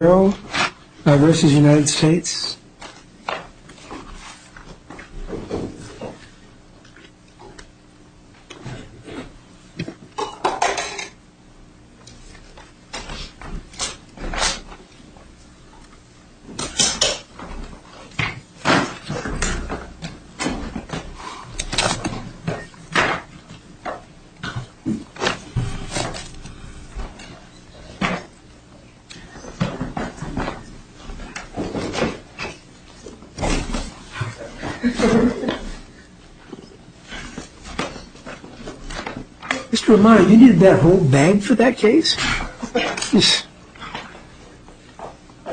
Huertero v. United States Mr. Romano, you needed that whole bag for that case?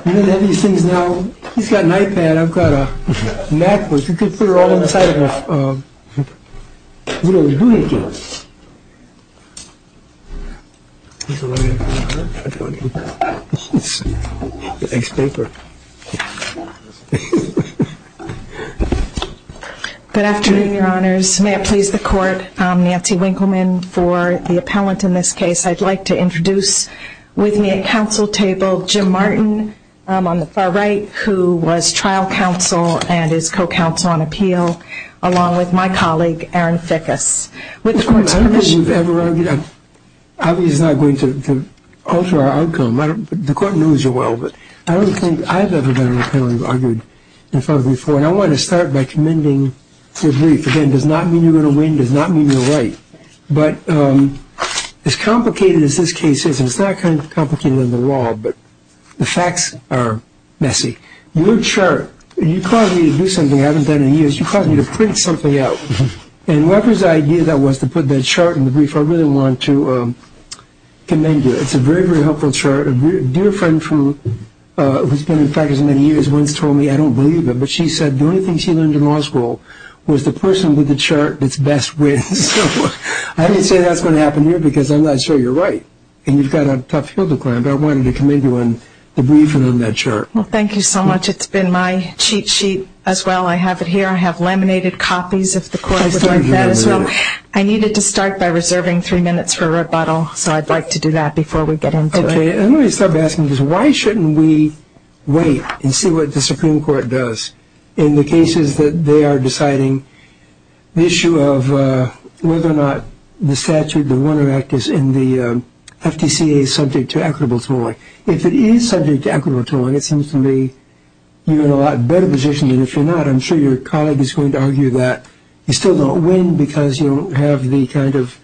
You don't have any of these things now? He's got an iPad, I've got a MacBook. You could put it all inside of a, you know, a unit case. Good afternoon, your honors. May it please the court, I'm Nancy Winkleman for the appellant in this case. I'd like to introduce with me at council table Jim Martin on the far right, who was trial counsel and is co-counsel on appeal, along with my colleague Aaron Fickus. I don't think we've ever argued, obviously it's not going to alter our outcome. The court knows you well, but I don't think I've ever been on a panel and argued in front of you before. And I want to start by commending your brief. Again, it does not mean you're going to win, it does not mean you're right. But as complicated as this case is, and it's not complicated in the law, but the facts are messy. Your chart, you caused me to do something I haven't done in years. You caused me to print something out. And Weber's idea that was to put that chart in the brief, I really want to commend you. It's a very, very helpful chart. A dear friend who's been in practice many years once told me, I don't believe it, but she said the only thing she learned in law school was the person with the chart that's best wins. So I didn't say that's going to happen here because I'm not sure you're right. And you've got a tough hill to climb, but I wanted to commend you on the brief and on that chart. Well, thank you so much. It's been my cheat sheet as well. I have it here. I have laminated copies if the court would like that as well. I needed to start by reserving three minutes for rebuttal, so I'd like to do that before we get into it. Okay. And let me start by asking this. Why shouldn't we wait and see what the Supreme Court does in the cases that they are deciding the issue of whether or not the statute, the Warner Act, is in the FTCA subject to equitable tolling? If it is subject to equitable tolling, it seems to me you're in a lot better position than if you're not. I'm sure your colleague is going to argue that you still don't win because you don't have the kind of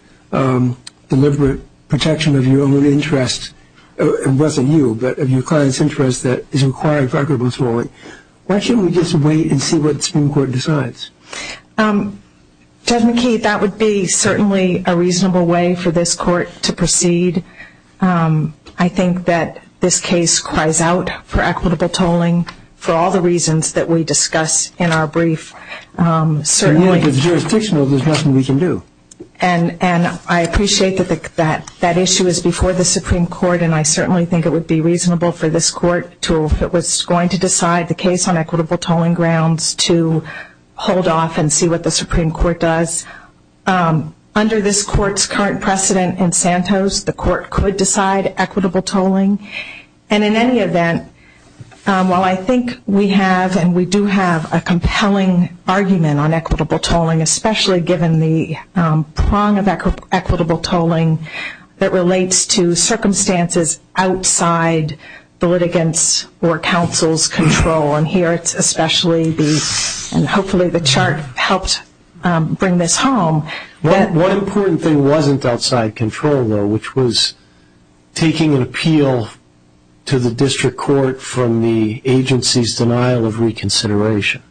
deliberate protection of your own interest. It wasn't you, but of your client's interest that is required for equitable tolling. Why shouldn't we just wait and see what the Supreme Court decides? Judge McKee, that would be certainly a reasonable way for this court to proceed. I think that this case cries out for equitable tolling for all the reasons that we discuss in our brief. Certainly. If it's jurisdictional, there's nothing we can do. And I appreciate that that issue is before the Supreme Court, and I certainly think it would be reasonable for this court to, if it was going to decide the case on equitable tolling grounds, to hold off and see what the Supreme Court does. Under this court's current precedent in Santos, the court could decide equitable tolling. And in any event, while I think we have and we do have a compelling argument on equitable tolling, especially given the prong of equitable tolling that relates to circumstances outside the litigants' or counsel's control. And here it's especially, and hopefully the chart helps bring this home. One important thing wasn't outside control, though, which was taking an appeal to the district court from the agency's denial of reconsideration.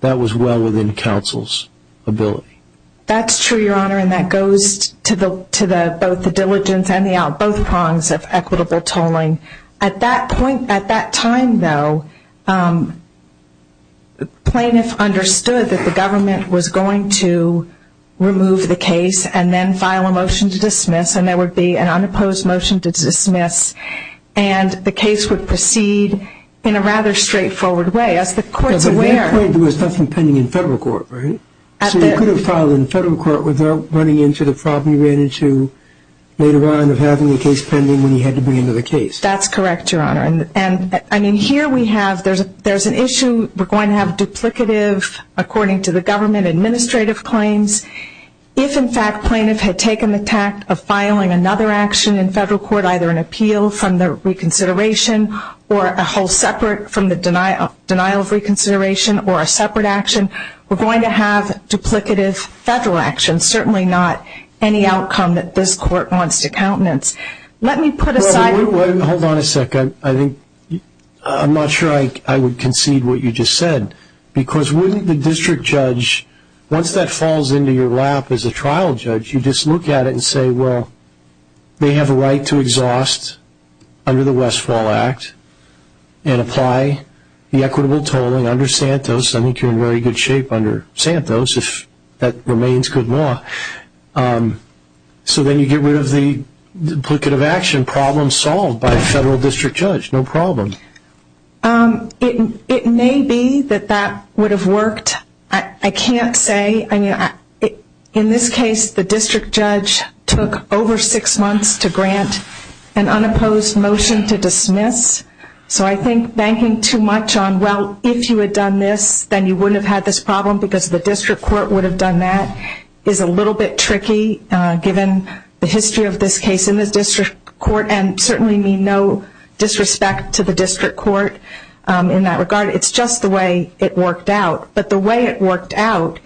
That was well within counsel's ability. That's true, Your Honor, and that goes to both the diligence and both prongs of equitable tolling. At that point, at that time, though, plaintiffs understood that the government was going to remove the case and then file a motion to dismiss, and there would be an unopposed motion to dismiss, and the case would proceed in a rather straightforward way. As the courts are aware of. At that point, there was nothing pending in federal court, right? So you could have filed in federal court without running into the problem you ran into later on when you had to bring into the case. That's correct, Your Honor. And, I mean, here we have, there's an issue. We're going to have duplicative, according to the government, administrative claims. If, in fact, plaintiff had taken the tact of filing another action in federal court, either an appeal from the reconsideration or a whole separate from the denial of reconsideration or a separate action, we're going to have duplicative federal actions, and certainly not any outcome that this court wants to countenance. Let me put aside. Hold on a second. I'm not sure I would concede what you just said, because wouldn't the district judge, once that falls into your lap as a trial judge, you just look at it and say, well, they have a right to exhaust under the Westfall Act and apply the equitable tolling under Santos. I think you're in very good shape under Santos, if that remains good law. So then you get rid of the duplicative action problem solved by a federal district judge. No problem. It may be that that would have worked. I can't say. In this case, the district judge took over six months to grant an unopposed motion to dismiss. So I think banking too much on, well, if you had done this, then you wouldn't have had this problem, because the district court would have done that, is a little bit tricky, given the history of this case in the district court, and certainly mean no disrespect to the district court in that regard. It's just the way it worked out. But the way it worked out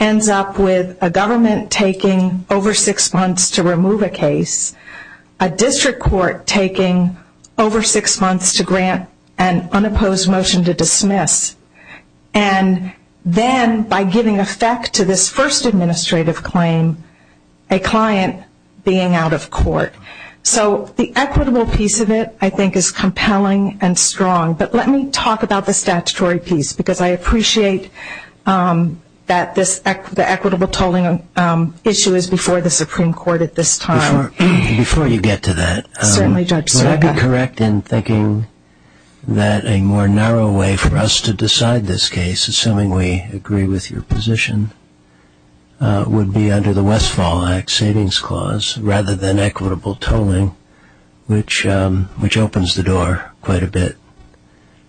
ends up with a government taking over six months to remove a case, a district court taking over six months to grant an unopposed motion to dismiss, and then by giving effect to this first administrative claim, a client being out of court. So the equitable piece of it, I think, is compelling and strong. But let me talk about the statutory piece, because I appreciate that the equitable tolling issue is before the Supreme Court at this time. Before you get to that, would I be correct in thinking that a more narrow way for us to decide this case, assuming we agree with your position, would be under the Westfall Act Savings Clause, rather than equitable tolling, which opens the door quite a bit.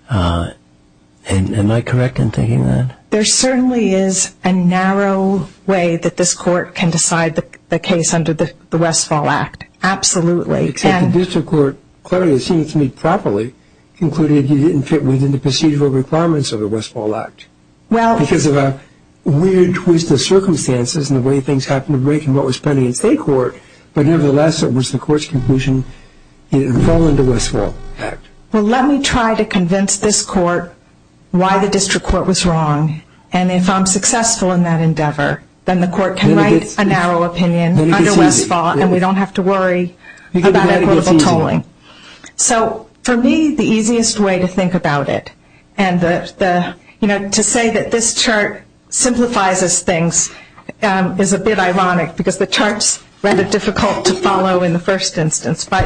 Am I correct in thinking that? There certainly is a narrow way that this court can decide the case under the Westfall Act. Absolutely. Except the district court, clearly, it seems to me, properly concluded you didn't fit within the procedural requirements of the Westfall Act, because of a weird twist of circumstances in the way things happened to break and what was pending in state court. But nevertheless, it was the court's conclusion you didn't fall under the Westfall Act. Well, let me try to convince this court why the district court was wrong. And if I'm successful in that endeavor, then the court can write a narrow opinion under Westfall, and we don't have to worry about equitable tolling. So for me, the easiest way to think about it, and to say that this chart simplifies things is a bit ironic, because the chart is rather difficult to follow in the first instance. But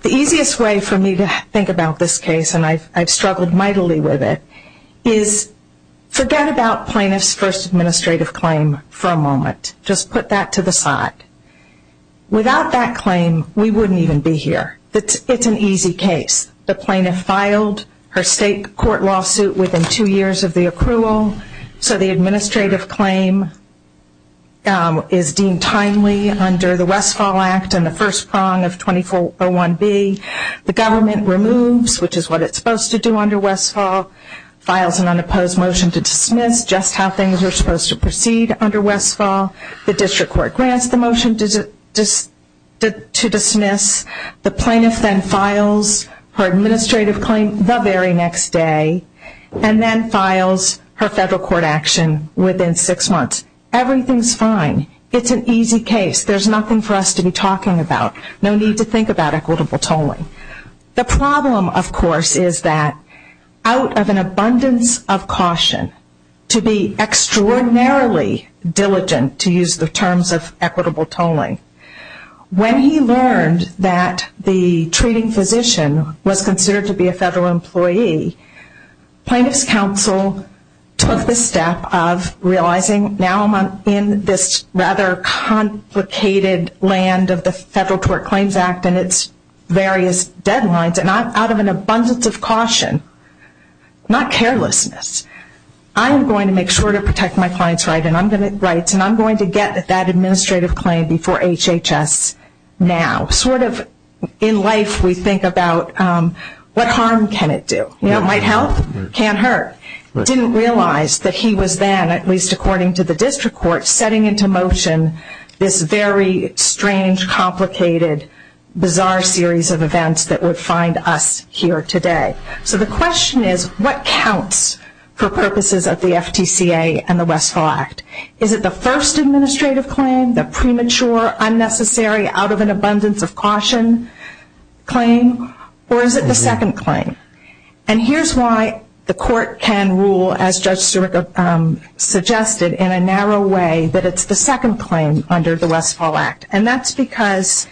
the easiest way for me to think about this case, and I've struggled mightily with it, is forget about plaintiff's first administrative claim for a moment. Just put that to the side. Without that claim, we wouldn't even be here. It's an easy case. The plaintiff filed her state court lawsuit within two years of the accrual, so the administrative claim is deemed timely under the Westfall Act and the first prong of 2401B. The government removes, which is what it's supposed to do under Westfall, files an unopposed motion to dismiss just how things were supposed to proceed under Westfall. The district court grants the motion to dismiss. The plaintiff then files her administrative claim the very next day and then files her federal court action within six months. Everything's fine. It's an easy case. There's nothing for us to be talking about. No need to think about equitable tolling. The problem, of course, is that out of an abundance of caution, to be extraordinarily diligent, to use the terms of equitable tolling, when he learned that the treating physician was considered to be a federal employee, plaintiff's counsel took the step of realizing, now I'm in this rather complicated land of the Federal Tort Claims Act and its various deadlines, and out of an abundance of caution, not carelessness, I am going to make sure to protect my client's rights and I'm going to get that administrative claim before HHS now. Sort of in life we think about what harm can it do? You know, it might help. It can't hurt. Didn't realize that he was then, at least according to the district court, setting into motion this very strange, complicated, bizarre series of events that would find us here today. So the question is, what counts for purposes of the FTCA and the Westfall Act? Is it the first administrative claim? The premature, unnecessary, out of an abundance of caution claim? Or is it the second claim? And here's why the court can rule, as Judge Sirica suggested, in a narrow way that it's the second claim under the Westfall Act. And that's because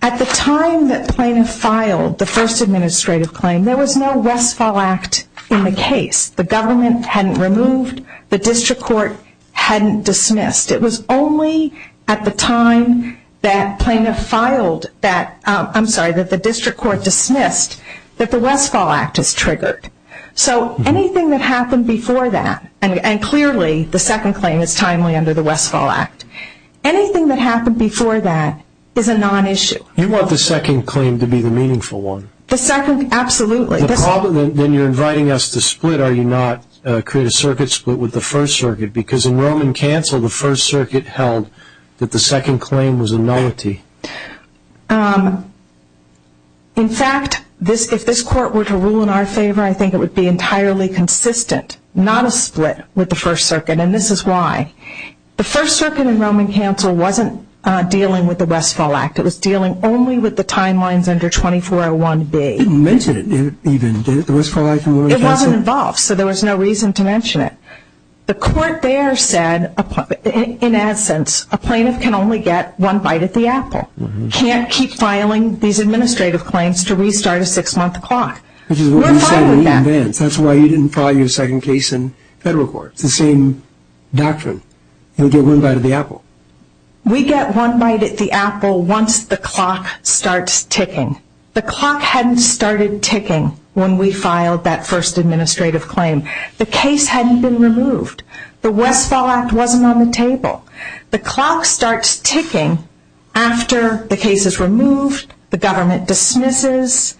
at the time that plaintiff filed the first administrative claim, there was no Westfall Act in the case. The government hadn't removed, the district court hadn't dismissed. It was only at the time that plaintiff filed that, I'm sorry, that the district court dismissed that the Westfall Act is triggered. So anything that happened before that, and clearly the second claim is timely under the Westfall Act, anything that happened before that is a non-issue. You want the second claim to be the meaningful one? The second, absolutely. Then you're inviting us to split, are you not, create a circuit split with the First Circuit? Because in Roman Council, the First Circuit held that the second claim was a nullity. In fact, if this court were to rule in our favor, I think it would be entirely consistent, not a split with the First Circuit, and this is why. The First Circuit in Roman Council wasn't dealing with the Westfall Act. It was dealing only with the timelines under 2401B. It didn't mention it even, did it, the Westfall Act in Roman Council? It wasn't involved, so there was no reason to mention it. The court there said, in essence, a plaintiff can only get one bite at the apple, can't keep filing these administrative claims to restart a six-month clock. Which is what you said in advance. That's why you didn't file your second case in federal court. It's the same doctrine. You'll get one bite at the apple. We get one bite at the apple once the clock starts ticking. The clock hadn't started ticking when we filed that first administrative claim. The case hadn't been removed. The Westfall Act wasn't on the table. The clock starts ticking after the case is removed, the government dismisses,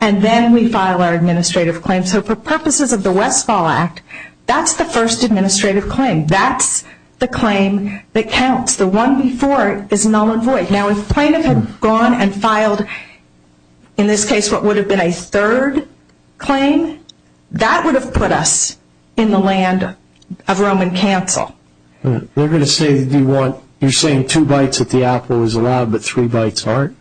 and then we file our administrative claims. So for purposes of the Westfall Act, that's the first administrative claim. That's the claim that counts. The one before it is null and void. Now if a plaintiff had gone and filed, in this case, what would have been a third claim, that would have put us in the land of Roman Council. You're saying two bites at the apple is allowed but three bites aren't?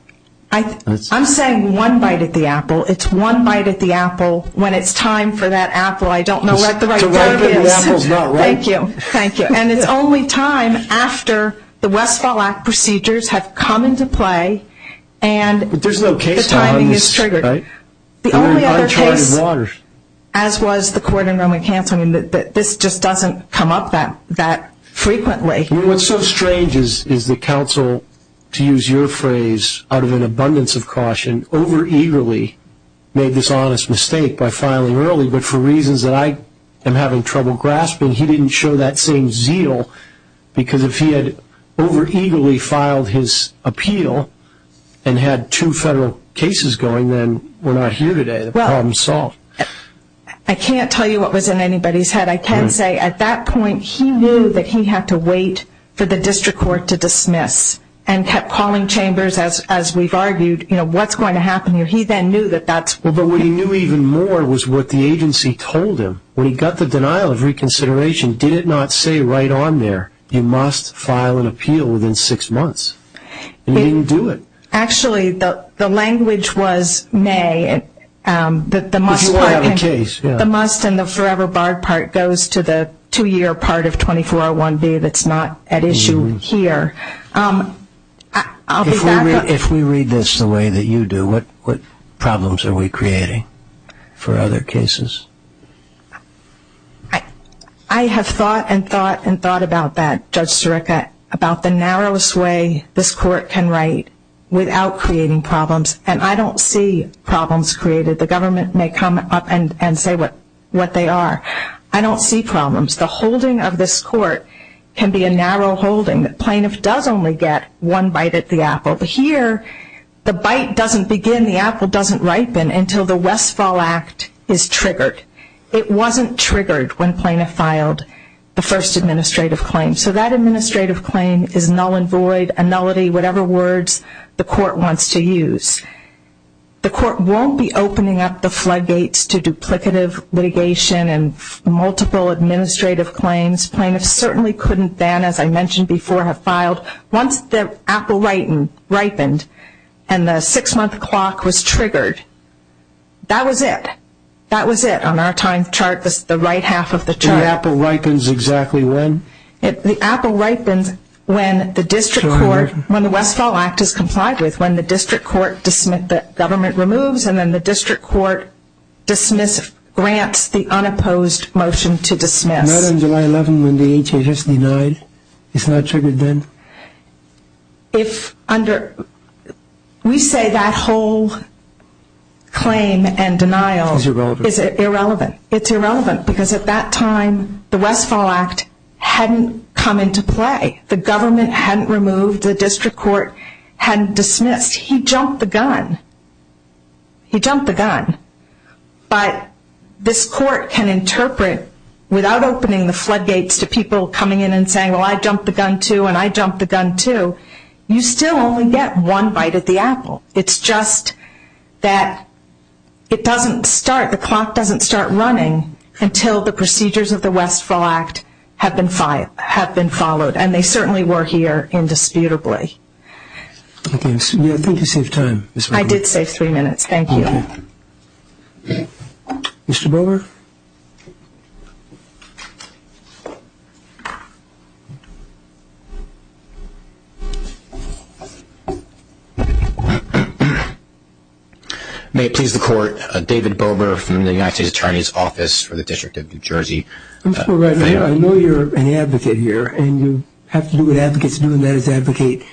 I'm saying one bite at the apple. It's one bite at the apple when it's time for that apple. I don't know what the right verb is. Thank you. It's only time after the Westfall Act procedures have come into play and the timing is triggered. The only other case, as was the court in Roman Council, this just doesn't come up that frequently. What's so strange is that counsel, to use your phrase, out of an abundance of caution, over eagerly made this honest mistake by filing early, but for reasons that I am having trouble grasping, he didn't show that same zeal because if he had over eagerly filed his appeal and had two federal cases going, then we're not here today, the problem's solved. I can't tell you what was in anybody's head. I can say at that point he knew that he had to wait for the district court to dismiss and kept calling chambers as we've argued, you know, what's going to happen here. But what he knew even more was what the agency told him. When he got the denial of reconsideration, did it not say right on there, you must file an appeal within six months? It didn't do it. Actually, the language was, nay, that the must part and the forever barred part goes to the two-year part of 2401B that's not at issue here. If we read this the way that you do, what problems are we creating for other cases? I have thought and thought and thought about that, Judge Sirica, about the narrowest way this court can write without creating problems, and I don't see problems created. The government may come up and say what they are. I don't see problems. The holding of this court can be a narrow holding. The plaintiff does only get one bite at the apple. Here, the bite doesn't begin, the apple doesn't ripen, until the Westfall Act is triggered. It wasn't triggered when plaintiff filed the first administrative claim. So that administrative claim is null and void, annullity, whatever words the court wants to use. The court won't be opening up the floodgates to duplicative litigation and multiple administrative claims. Plaintiffs certainly couldn't then, as I mentioned before, have filed once the apple ripened and the six-month clock was triggered. That was it. That was it on our time chart, the right half of the chart. The apple ripens exactly when? The apple ripens when the district court, when the Westfall Act is complied with, when the government removes and then the district court grants the unopposed motion to dismiss. Not on July 11th when the HHS denied? It's not triggered then? We say that whole claim and denial is irrelevant. It's irrelevant because at that time the Westfall Act hadn't come into play. The government hadn't removed. The district court hadn't dismissed. He jumped the gun. He jumped the gun. But this court can interpret without opening the floodgates to people coming in and saying, well, I jumped the gun too and I jumped the gun too, you still only get one bite at the apple. It's just that it doesn't start, the clock doesn't start running until the procedures of the Westfall Act have been followed, and they certainly were here indisputably. I think you saved time. I did save three minutes. Thank you. Mr. Bober? May it please the Court, David Bober from the United States Attorney's Office for the District of New Jersey. I know you're an advocate here, and you have to do what advocates do and that is advocate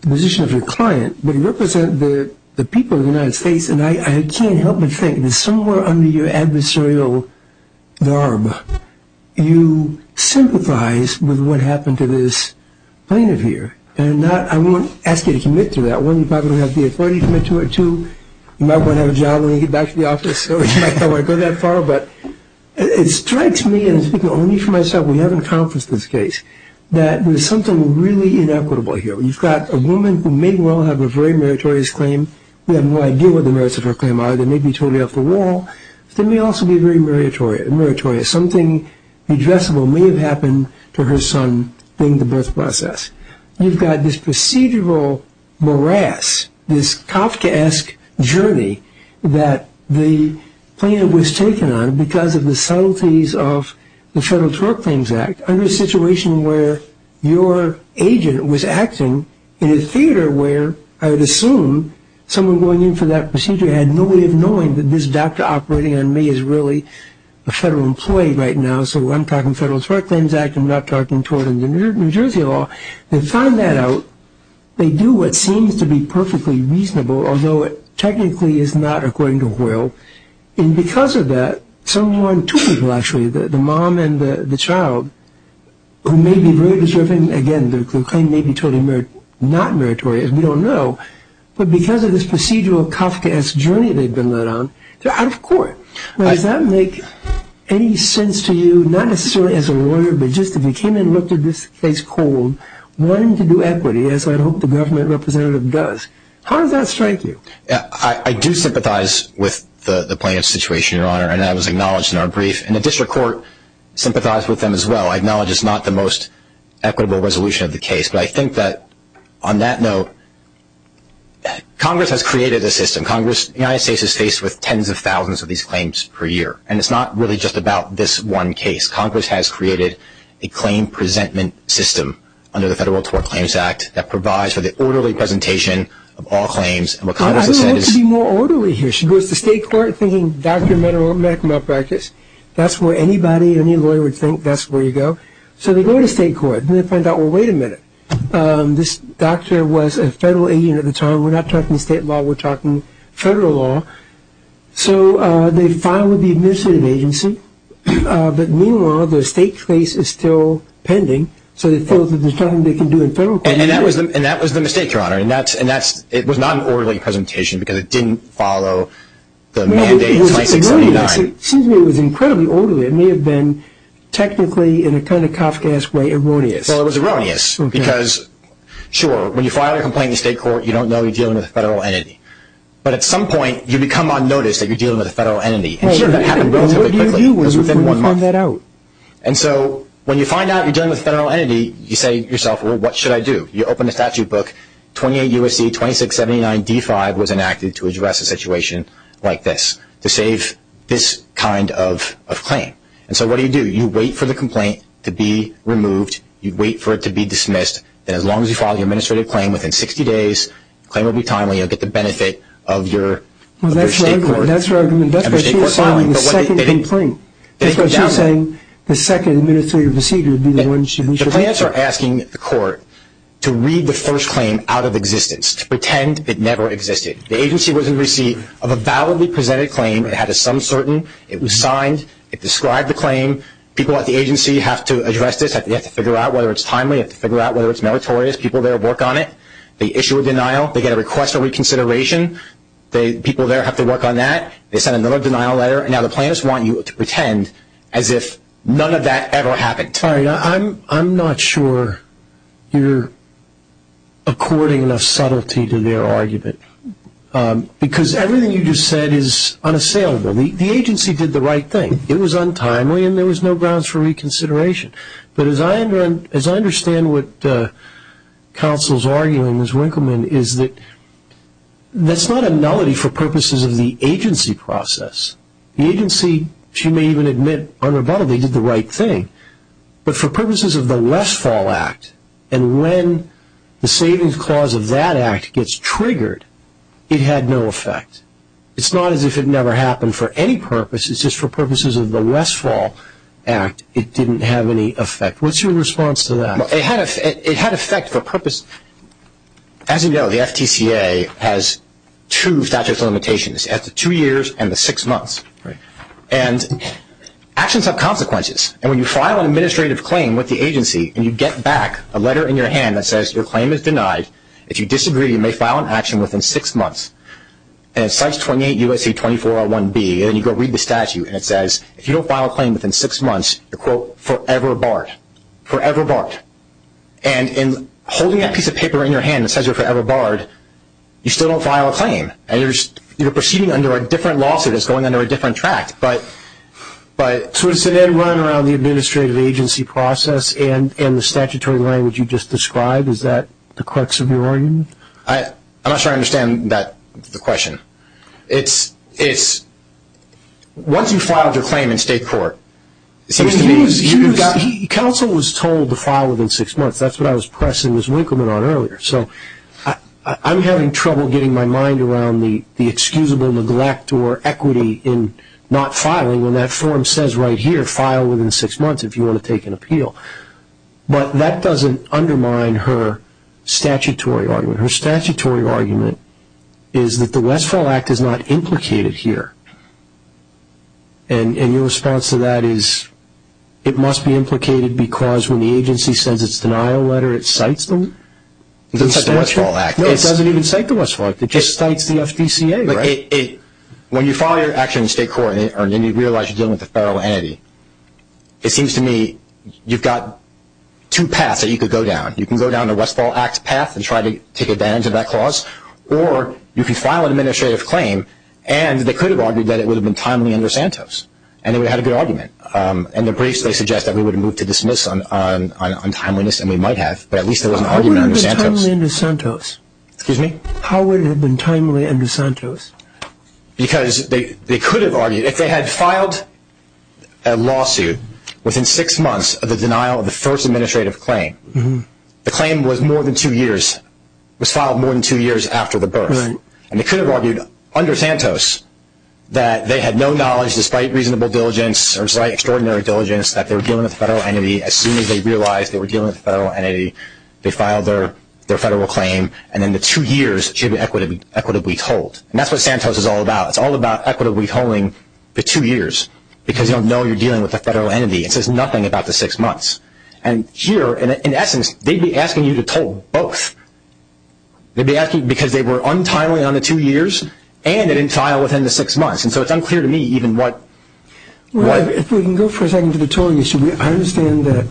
the position of your client. You represent the people of the United States, and I can't help but think that somewhere under your adversarial garb, you sympathize with what happened to this plaintiff here. And I won't ask you to commit to that. One, you probably don't have the authority to commit to it. Two, you might want to have a job when you get back to the office, so you might not want to go that far. But it strikes me, and I'm speaking only for myself, we haven't confessed this case, that there's something really inequitable here. You've got a woman who may well have a very meritorious claim. We have no idea what the merits of her claim are. They may be totally off the wall, but they may also be very meritorious. Something redressable may have happened to her son during the birth process. You've got this procedural morass, this Kafkaesque journey, that the plaintiff was taken on because of the subtleties of the Federal Tort Claims Act under a situation where your agent was acting in a theater where I would assume someone going in for that procedure had no way of knowing that this doctor operating on me is really a federal employee right now. So I'm talking Federal Tort Claims Act. I'm not talking tort in the New Jersey law. They found that out. They do what seems to be perfectly reasonable, although it technically is not, according to Hoyle. And because of that, someone, two people actually, the mom and the child, who may be very deserving, again, the claim may be totally not meritorious, we don't know, but because of this procedural Kafkaesque journey they've been led on, they're out of court. Does that make any sense to you, not necessarily as a lawyer, but just if you came and looked at this case cold, wanting to do equity, as I hope the government representative does, how does that strike you? I do sympathize with the plaintiff's situation, Your Honor, and that was acknowledged in our brief. And the district court sympathized with them as well. I acknowledge it's not the most equitable resolution of the case. But I think that on that note, Congress has created a system. Congress, the United States, is faced with tens of thousands of these claims per year, and it's not really just about this one case. Congress has created a claim presentment system under the Federal Tort Claims Act that provides for the orderly presentation of all claims. I don't want it to be more orderly here. She goes to state court thinking doctor, medical malpractice, that's where anybody, any lawyer would think, that's where you go. So they go to state court and they find out, well, wait a minute, this doctor was a federal agent at the time. We're not talking state law, we're talking federal law. So they file with the administrative agency, but meanwhile the state case is still pending, so they feel there's nothing they can do in federal court. And that was the mistake, Your Honor. It was not an orderly presentation because it didn't follow the mandate 2679. It seems to me it was incredibly orderly. It may have been technically, in a kind of Kafkaesque way, erroneous. Well, it was erroneous because, sure, when you file a complaint in state court, you don't know you're dealing with a federal entity. But at some point you become on notice that you're dealing with a federal entity. And sure, that happened relatively quickly. It was within one month. And so when you find out you're dealing with a federal entity, you say to yourself, well, what should I do? You open a statute book, 28 U.S.C. 2679 D5 was enacted to address a situation like this, to save this kind of claim. And so what do you do? You wait for the complaint to be removed. You wait for it to be dismissed. And as long as you file the administrative claim within 60 days, the claim will be timely. You'll get the benefit of your state court filing. The second complaint. That's what she's saying. The second administrative procedure would be the one she was just saying. The plaintiffs are asking the court to read the first claim out of existence, to pretend it never existed. The agency was in receipt of a validly presented claim. It had a some certain. It was signed. It described the claim. People at the agency have to address this. They have to figure out whether it's timely. They have to figure out whether it's meritorious. People there work on it. They issue a denial. They get a request for reconsideration. People there have to work on that. They send another denial letter. Now the plaintiffs want you to pretend as if none of that ever happened. I'm not sure you're according enough subtlety to their argument. Because everything you just said is unassailable. The agency did the right thing. It was untimely and there was no grounds for reconsideration. But as I understand what counsel is arguing, Ms. Winkleman, is that that's not a nullity for purposes of the agency process. The agency, she may even admit unrebuttedly, did the right thing. But for purposes of the Westfall Act, and when the savings clause of that act gets triggered, it had no effect. It's not as if it never happened for any purpose. It's just for purposes of the Westfall Act, it didn't have any effect. What's your response to that? It had effect for purpose. As you know, the FTCA has two statute of limitations. It has the two years and the six months. And actions have consequences. And when you file an administrative claim with the agency and you get back a letter in your hand that says your claim is denied, if you disagree you may file an action within six months, and it cites 28 U.S.C. 2401B, and then you go read the statute, and it says if you don't file a claim within six months, you're forever barred, forever barred. And in holding that piece of paper in your hand that says you're forever barred, you still don't file a claim, and you're proceeding under a different lawsuit. It's going under a different tract. So is it then running around the administrative agency process and the statutory language you just described? Is that the crux of your argument? I'm not sure I understand the question. It's once you've filed your claim in state court, it seems to me. Counsel was told to file within six months. That's what I was pressing Ms. Winkleman on earlier. So I'm having trouble getting my mind around the excusable neglect or equity in not filing when that form says right here file within six months if you want to take an appeal. But that doesn't undermine her statutory argument. Her statutory argument is that the Westfall Act is not implicated here. And your response to that is it must be implicated because when the agency says its denial letter, it cites them? It doesn't cite the Westfall Act. No, it doesn't even cite the Westfall Act. It just cites the FDCA, right? When you file your action in state court and then you realize you're dealing with a federal entity, it seems to me you've got two paths that you could go down. You can go down the Westfall Act path and try to take advantage of that clause or you can file an administrative claim and they could have argued that it would have been timely under Santos and they would have had a good argument. In the briefs they suggest that we would have moved to dismiss on timeliness and we might have, but at least there was an argument under Santos. How would it have been timely under Santos? Excuse me? How would it have been timely under Santos? Because they could have argued, if they had filed a lawsuit within six months of the denial of the first administrative claim, the claim was filed more than two years after the birth and they could have argued under Santos that they had no knowledge despite reasonable diligence or despite extraordinary diligence that they were dealing with a federal entity. As soon as they realized they were dealing with a federal entity, they filed their federal claim and then the two years should be equitably told. That's what Santos is all about. It's all about equitably telling the two years because you don't know you're dealing with a federal entity. It says nothing about the six months. And here, in essence, they'd be asking you to tell both. They'd be asking because they were untimely on the two years and they didn't file within the six months. And so it's unclear to me even what... If we can go for a second to the total issue, I understand that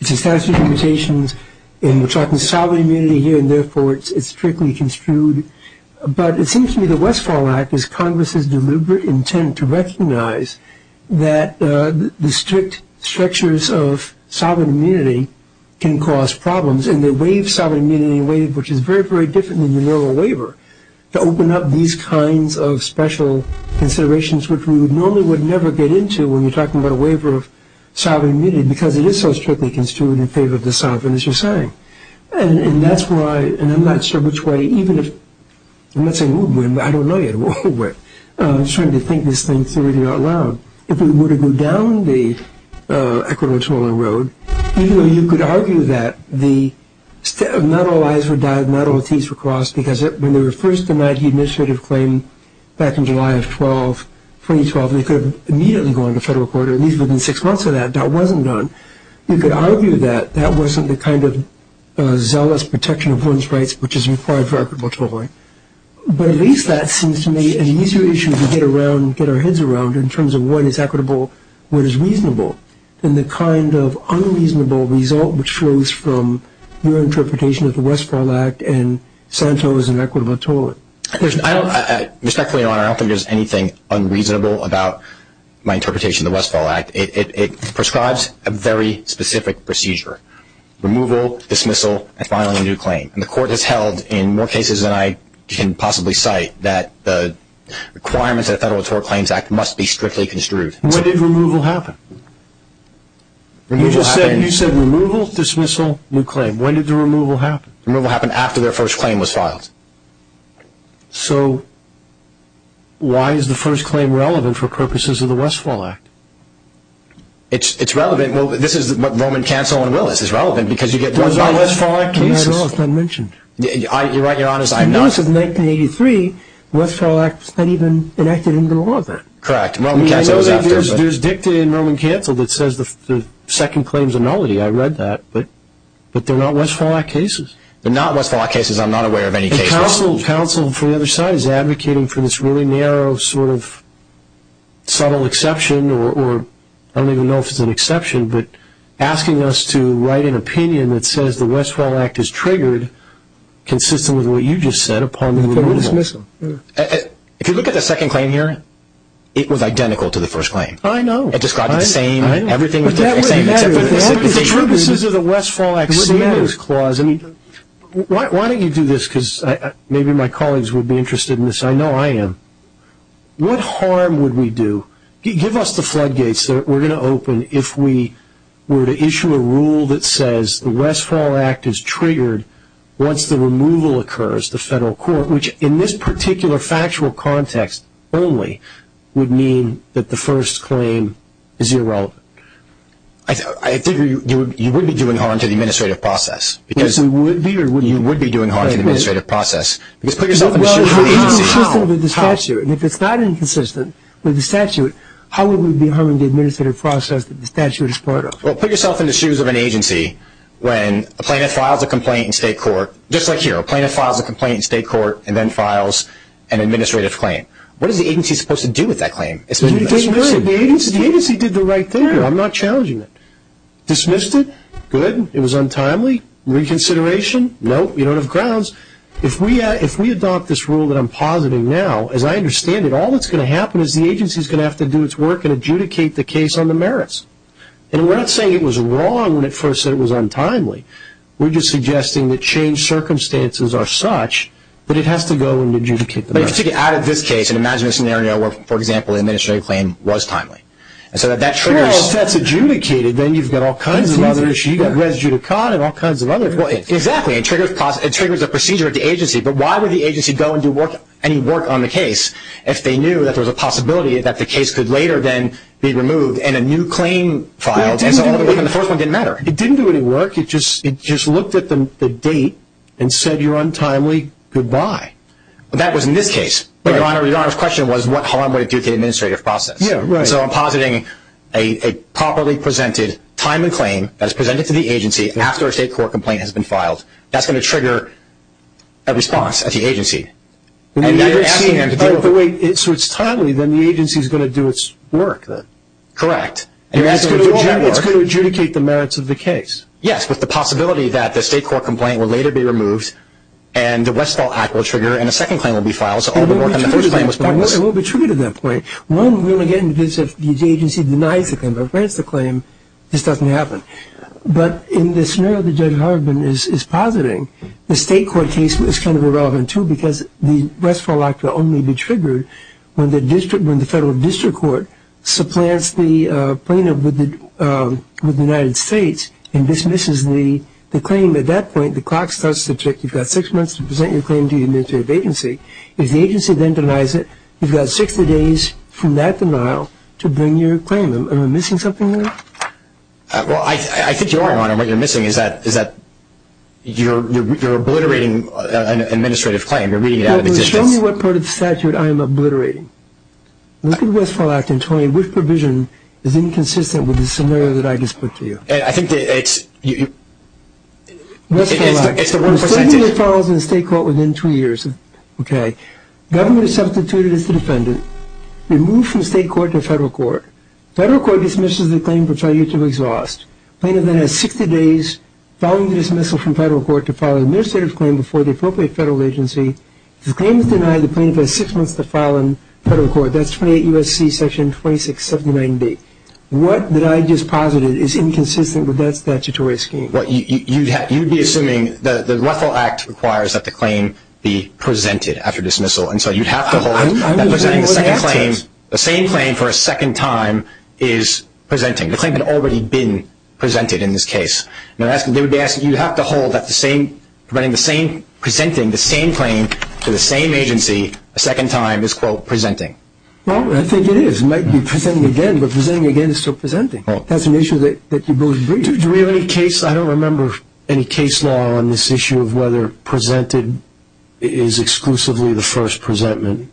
it's a statute of limitations and we're talking solid immunity here and therefore it's strictly construed, but it seems to me the Westfall Act is Congress's deliberate intent to recognize that the strict structures of sovereign immunity can cause problems and they waive sovereign immunity in a way which is very, very different than the normal waiver to open up these kinds of special considerations which we normally would never get into when you're talking about a waiver of sovereign immunity because it is so strictly construed in favor of the sovereign, as you're saying. And that's why, and I'm not sure which way, even if... I'm not saying who would win, but I don't know yet who would win. I'm starting to think this thing's really not allowed. If we were to go down the equivalent toiling road, even though you could argue that not all I's were died, not all T's were crossed because when they were first denied the administrative claim back in July of 2012, they could have immediately gone to federal court, or at least within six months of that, that wasn't done. You could argue that that wasn't the kind of zealous protection of one's rights which is required for equitable toiling. But at least that seems to me an easier issue to get our heads around in terms of what is equitable, what is reasonable, and the kind of unreasonable result which flows from your interpretation of the Westphal Act and Santos and equitable toiling. Respectfully, Your Honor, I don't think there's anything unreasonable about my interpretation of the Westphal Act. It prescribes a very specific procedure. Removal, dismissal, and filing a new claim. And the Court has held in more cases than I can possibly cite that the requirements of the Federal Tort Claims Act must be strictly construed. When did removal happen? You just said removal, dismissal, new claim. When did the removal happen? Removal happened after their first claim was filed. So why is the first claim relevant for purposes of the Westphal Act? It's relevant. This is what Roman Cancel and Willis is relevant because you get Westphal Act cases. Those aren't Westphal Act cases at all. It's not mentioned. You're right, Your Honor, I'm not. Notice in 1983, Westphal Act wasn't even enacted into the law then. Correct. Roman Cancel was after it. There's dicta in Roman Cancel that says the second claim is a nullity. I read that, but they're not Westphal Act cases. They're not Westphal Act cases. I'm not aware of any cases. Counsel from the other side is advocating for this really narrow sort of subtle exception, or I don't even know if it's an exception, but asking us to write an opinion that says the Westphal Act is triggered consistent with what you just said upon the removal. It's a dismissal. If you look at the second claim here, it was identical to the first claim. I know. It described the same, everything was the same, except for the dismissal. The purposes of the Westphal Act savings clause, why don't you do this because maybe my colleagues would be interested in this. I know I am. What harm would we do? Give us the floodgates that we're going to open if we were to issue a rule that says the Westphal Act is triggered once the removal occurs, the federal court, which in this particular factual context only would mean that the first claim is irrelevant. I think you would be doing harm to the administrative process. Yes, we would be. You would be doing harm to the administrative process. Because put yourself in the shoes of an agency. Well, if it's inconsistent with the statute, and if it's not inconsistent with the statute, how would we be harming the administrative process that the statute is part of? Well, put yourself in the shoes of an agency when a plaintiff files a complaint in state court, just like here, a plaintiff files a complaint in state court and then files an administrative claim. What is the agency supposed to do with that claim? The agency did the right thing here. I'm not challenging it. Dismissed it? Good. It was untimely. Reconsideration? Nope. You don't have grounds. If we adopt this rule that I'm positing now, as I understand it, all that's going to happen is the agency is going to have to do its work and adjudicate the case on the merits. And we're not saying it was wrong when it first said it was untimely. We're just suggesting that changed circumstances are such that it has to go and adjudicate the merits. But if you take it out of this case and imagine a scenario where, for example, the administrative claim was timely. Well, if that's adjudicated, then you've got all kinds of other issues. You've got res judicata and all kinds of other things. Exactly. It triggers a procedure at the agency. But why would the agency go and do any work on the case if they knew that there was a possibility that the case could later then be removed and a new claim filed and the first one didn't matter? It didn't do any work. It just looked at the date and said you're untimely. Goodbye. That was in this case. Your Honor's question was what harm would it do to the administrative process. So I'm positing a properly presented time and claim that is presented to the agency after a state court complaint has been filed. That's going to trigger a response at the agency. So it's timely, then the agency is going to do its work. Correct. It's going to adjudicate the merits of the case. Yes, with the possibility that the state court complaint will later be removed and the Westfall Act will trigger and a second claim will be filed. So all the work on the first claim was pointless. It will be triggered at that point. One, again, if the agency denies the claim, this doesn't happen. But in the scenario that Judge Harbin is positing, the state court case is kind of irrelevant too because the Westfall Act will only be triggered when the federal district court supplants the plaintiff with the United States and dismisses the claim. At that point, the clock starts to tick. You've got six months to present your claim to the administrative agency. If the agency then denies it, you've got 60 days from that denial to bring your claim. Am I missing something here? Well, I think you are, Your Honor. What you're missing is that you're obliterating an administrative claim. You're reading it out of existence. Show me what part of the statute I am obliterating. Look at the Westfall Act and tell me which provision is inconsistent with the scenario that I just put to you. I think it's the one percentage. The Westfall Act. The statute follows in the state court within two years. Okay. Government is substituted as the defendant, removed from state court to federal court. Federal court dismisses the claim, which I'll use to exhaust. Plaintiff then has 60 days following the dismissal from federal court to file an administrative claim before the appropriate federal agency. If the claim is denied, the plaintiff has six months to file in federal court. That's 28 U.S.C. Section 2679B. What I just posited is inconsistent with that statutory scheme. You'd be assuming the Westfall Act requires that the claim be presented after dismissal, and so you'd have to hold that presenting the same claim for a second time is presenting. The claim had already been presented in this case. You'd have to hold that presenting the same claim to the same agency a second time is, quote, presenting. Well, I think it is. You might be presenting again, but presenting again is still presenting. That's an issue that you both agree. Do we have any case? I don't remember any case law on this issue of whether presented is exclusively the first presentment.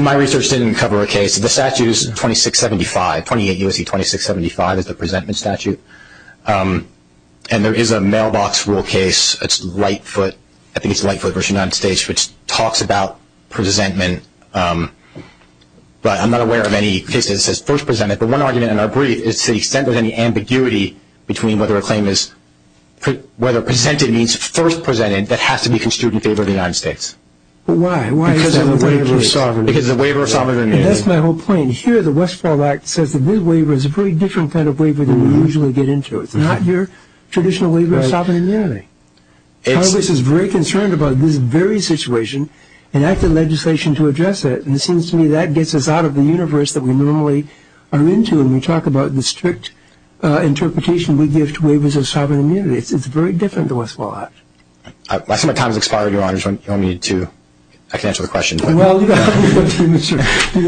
My research didn't cover a case. The statute is 2675, 28 U.S.C. 2675 is the presentment statute, and there is a mailbox rule case. I think it's Lightfoot v. United States, which talks about presentment, but I'm not aware of any case that says first presented. But one argument in our brief is to the extent of any ambiguity between whether a claim is whether presented means first presented, that has to be construed in favor of the United States. Why? Because of the waiver of sovereignty. Because of the waiver of sovereignty. That's my whole point. Here, the Westfall Act says that this waiver is a very different kind of waiver than we usually get into. It's not your traditional waiver of sovereign immunity. Congress is very concerned about this very situation and acted legislation to address it, and it seems to me that gets us out of the universe that we normally are into when we talk about the strict interpretation we give to waivers of sovereign immunity. It's very different to Westfall Act. Lesson of time has expired, Your Honors. You don't need to answer the question. Well, you can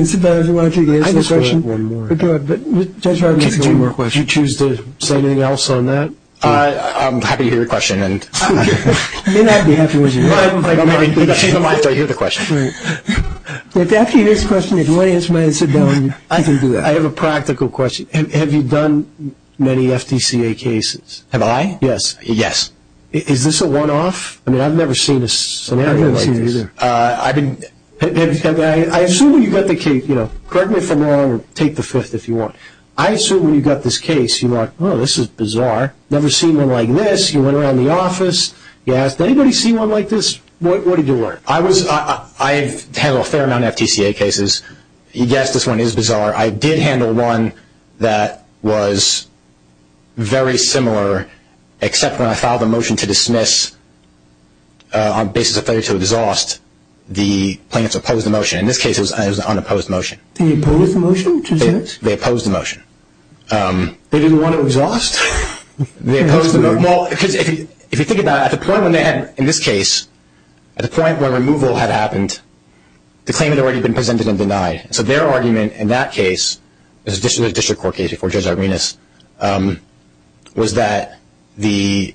sit down if you want to answer the question. Judge Rodman, if you choose to say anything else on that. I'm happy to hear your question. You may not be happy when you hear it. I hear the question. After you hear this question, if you want to answer mine, sit down. I can do that. I have a practical question. Have you done many FDCA cases? Have I? Yes. Yes. I mean, I've never seen a scenario like this. I've never seen it either. I assume you've got the case. Correct me if I'm wrong. Take the fifth if you want. I assume when you've got this case, you're like, oh, this is bizarre. I've never seen one like this. You went around the office. You asked, has anybody seen one like this? What did you learn? I've handled a fair amount of FDCA cases. You guessed this one is bizarre. I did handle one that was very similar, except when I filed a motion to dismiss on basis of failure to exhaust the plaintiff's opposed motion. In this case, it was an unopposed motion. The opposed motion? They opposed the motion. They didn't want to exhaust? They opposed the motion. Because if you think about it, at the point when they had, in this case, at the point where removal had happened, the claim had already been presented and denied. So their argument in that case, the district court case before Judge Arvinas, was that the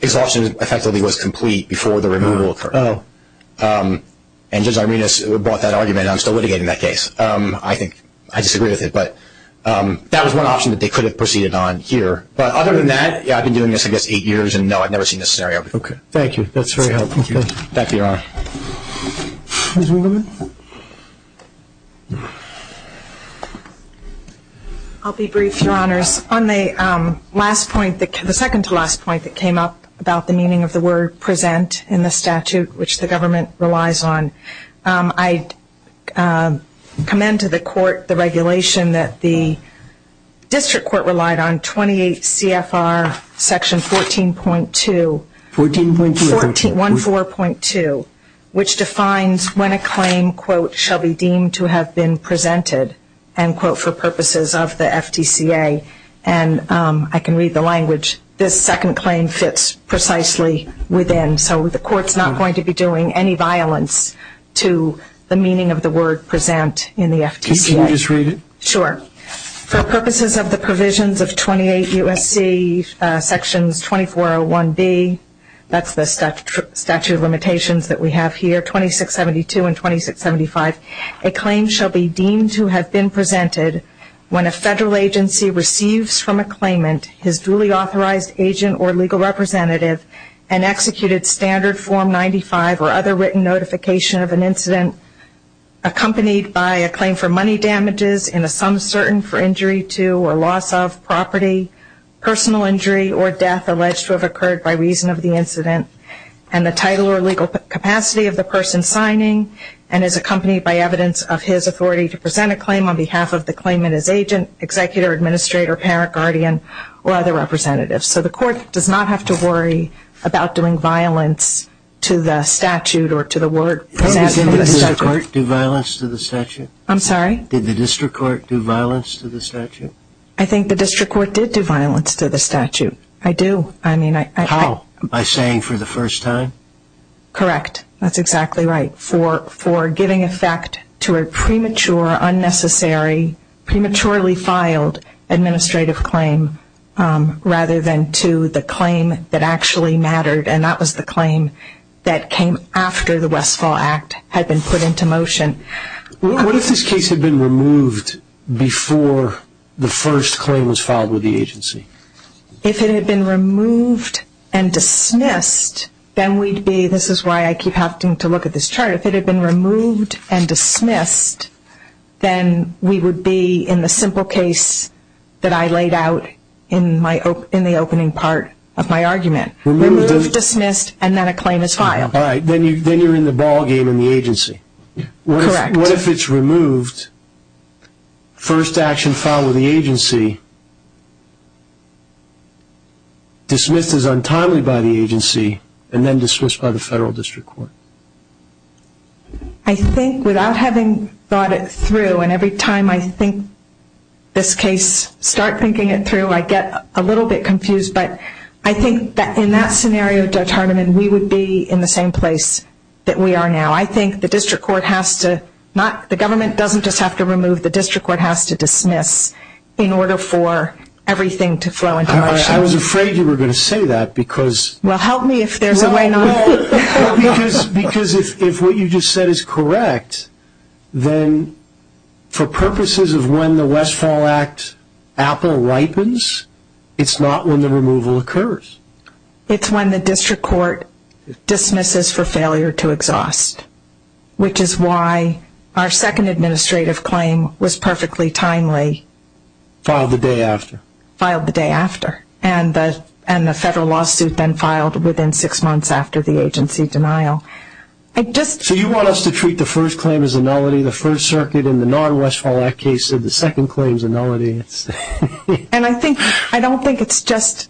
exhaustion effectively was complete before the removal occurred. Oh. And Judge Arvinas brought that argument. I'm still litigating that case. I think I disagree with it. But that was one option that they could have proceeded on here. But other than that, yeah, I've been doing this, I guess, eight years, and, no, I've never seen this scenario before. Okay. Thank you. That's very helpful. Thank you, Your Honor. Ms. Winkelman? I'll be brief, Your Honors. On the last point, the second-to-last point that came up about the meaning of the word present in the statute, which the government relies on, I commend to the court the regulation that the district court relied on 28 CFR Section 14.2. 14.2? 14.2, which defines when a claim, quote, shall be deemed to have been presented, end quote, for purposes of the FTCA. And I can read the language. This second claim fits precisely within. So the court's not going to be doing any violence to the meaning of the word present in the FTCA. Can you just read it? Sure. For purposes of the provisions of 28 U.S.C. Sections 2401B, that's the statute of limitations that we have here, 2672 and 2675, a claim shall be deemed to have been presented when a federal agency receives from a claimant his duly authorized agent or legal representative, an executed standard Form 95 or other written notification of an incident accompanied by a claim for money damages in the sum certain for injury to or loss of property, personal injury or death alleged to have occurred by reason of the incident, and the title or legal capacity of the person signing and is accompanied by evidence of his authority to present a claim on behalf of the claimant as agent, executor, administrator, parent, guardian, or other representative. So the court does not have to worry about doing violence to the statute or to the word present in the statute. Did the district court do violence to the statute? I'm sorry? Did the district court do violence to the statute? I think the district court did do violence to the statute. I do. How? By saying for the first time? Correct. That's exactly right. For giving effect to a premature, unnecessary, prematurely filed administrative claim rather than to the claim that actually mattered, and that was the claim that came after the Westfall Act had been put into motion. What if this case had been removed before the first claim was filed with the agency? If it had been removed and dismissed, then we'd be, this is why I keep having to look at this chart, if it had been removed and dismissed, then we would be in the simple case that I laid out in the opening part of my argument. Removed, dismissed, and then a claim is filed. All right. Then you're in the ballgame in the agency. Correct. What if it's removed, first action filed with the agency, dismissed as untimely by the agency, and then dismissed by the federal district court? I think without having thought it through, and every time I think this case, start thinking it through, I get a little bit confused. But I think that in that scenario, Judge Hardiman, we would be in the same place that we are now. I think the district court has to, the government doesn't just have to remove, the district court has to dismiss in order for everything to flow into motion. I was afraid you were going to say that because. Well, help me if there's a way not to. Because if what you just said is correct, then for purposes of when the Westfall Act Apple ripens, it's not when the removal occurs. It's when the district court dismisses for failure to exhaust, which is why our second administrative claim was perfectly timely. Filed the day after. Filed the day after. And the federal lawsuit then filed within six months after the agency denial. So you want us to treat the first claim as a nullity, the first circuit, and the non-Westfall Act case of the second claim is a nullity. And I think, I don't think it's just,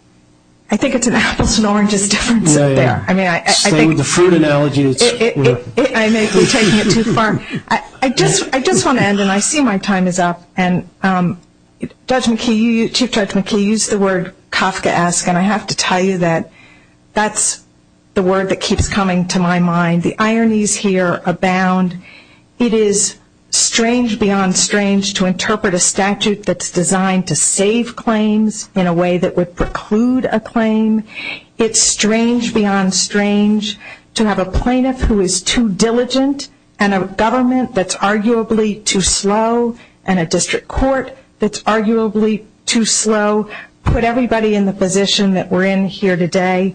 I think it's an apples and oranges difference up there. Yeah, yeah. Stay with the fruit analogy. I may be taking it too far. I just want to end, and I see my time is up. And Judge McKee, Chief Judge McKee used the word Kafkaesque, and I have to tell you that that's the word that keeps coming to my mind. The ironies here abound. It is strange beyond strange to interpret a statute that's designed to save claims in a way that would preclude a claim. It's strange beyond strange to have a plaintiff who is too diligent and a government that's arguably too slow and a district court that's arguably too slow put everybody in the position that we're in here today.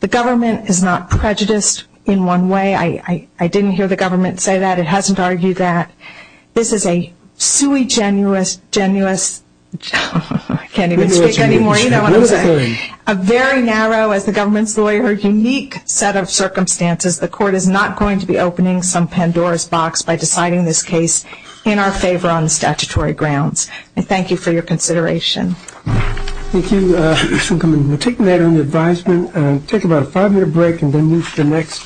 The government is not prejudiced in one way. I didn't hear the government say that. It hasn't argued that. This is a sui genuis, genuis, I can't even speak anymore. A very narrow, as the government's lawyer, unique set of circumstances. The court is not going to be opening some Pandora's box by deciding this case in our favor on statutory grounds. And thank you for your consideration. Thank you for taking that on the advisement. We'll take about a five-minute break and then move to the next.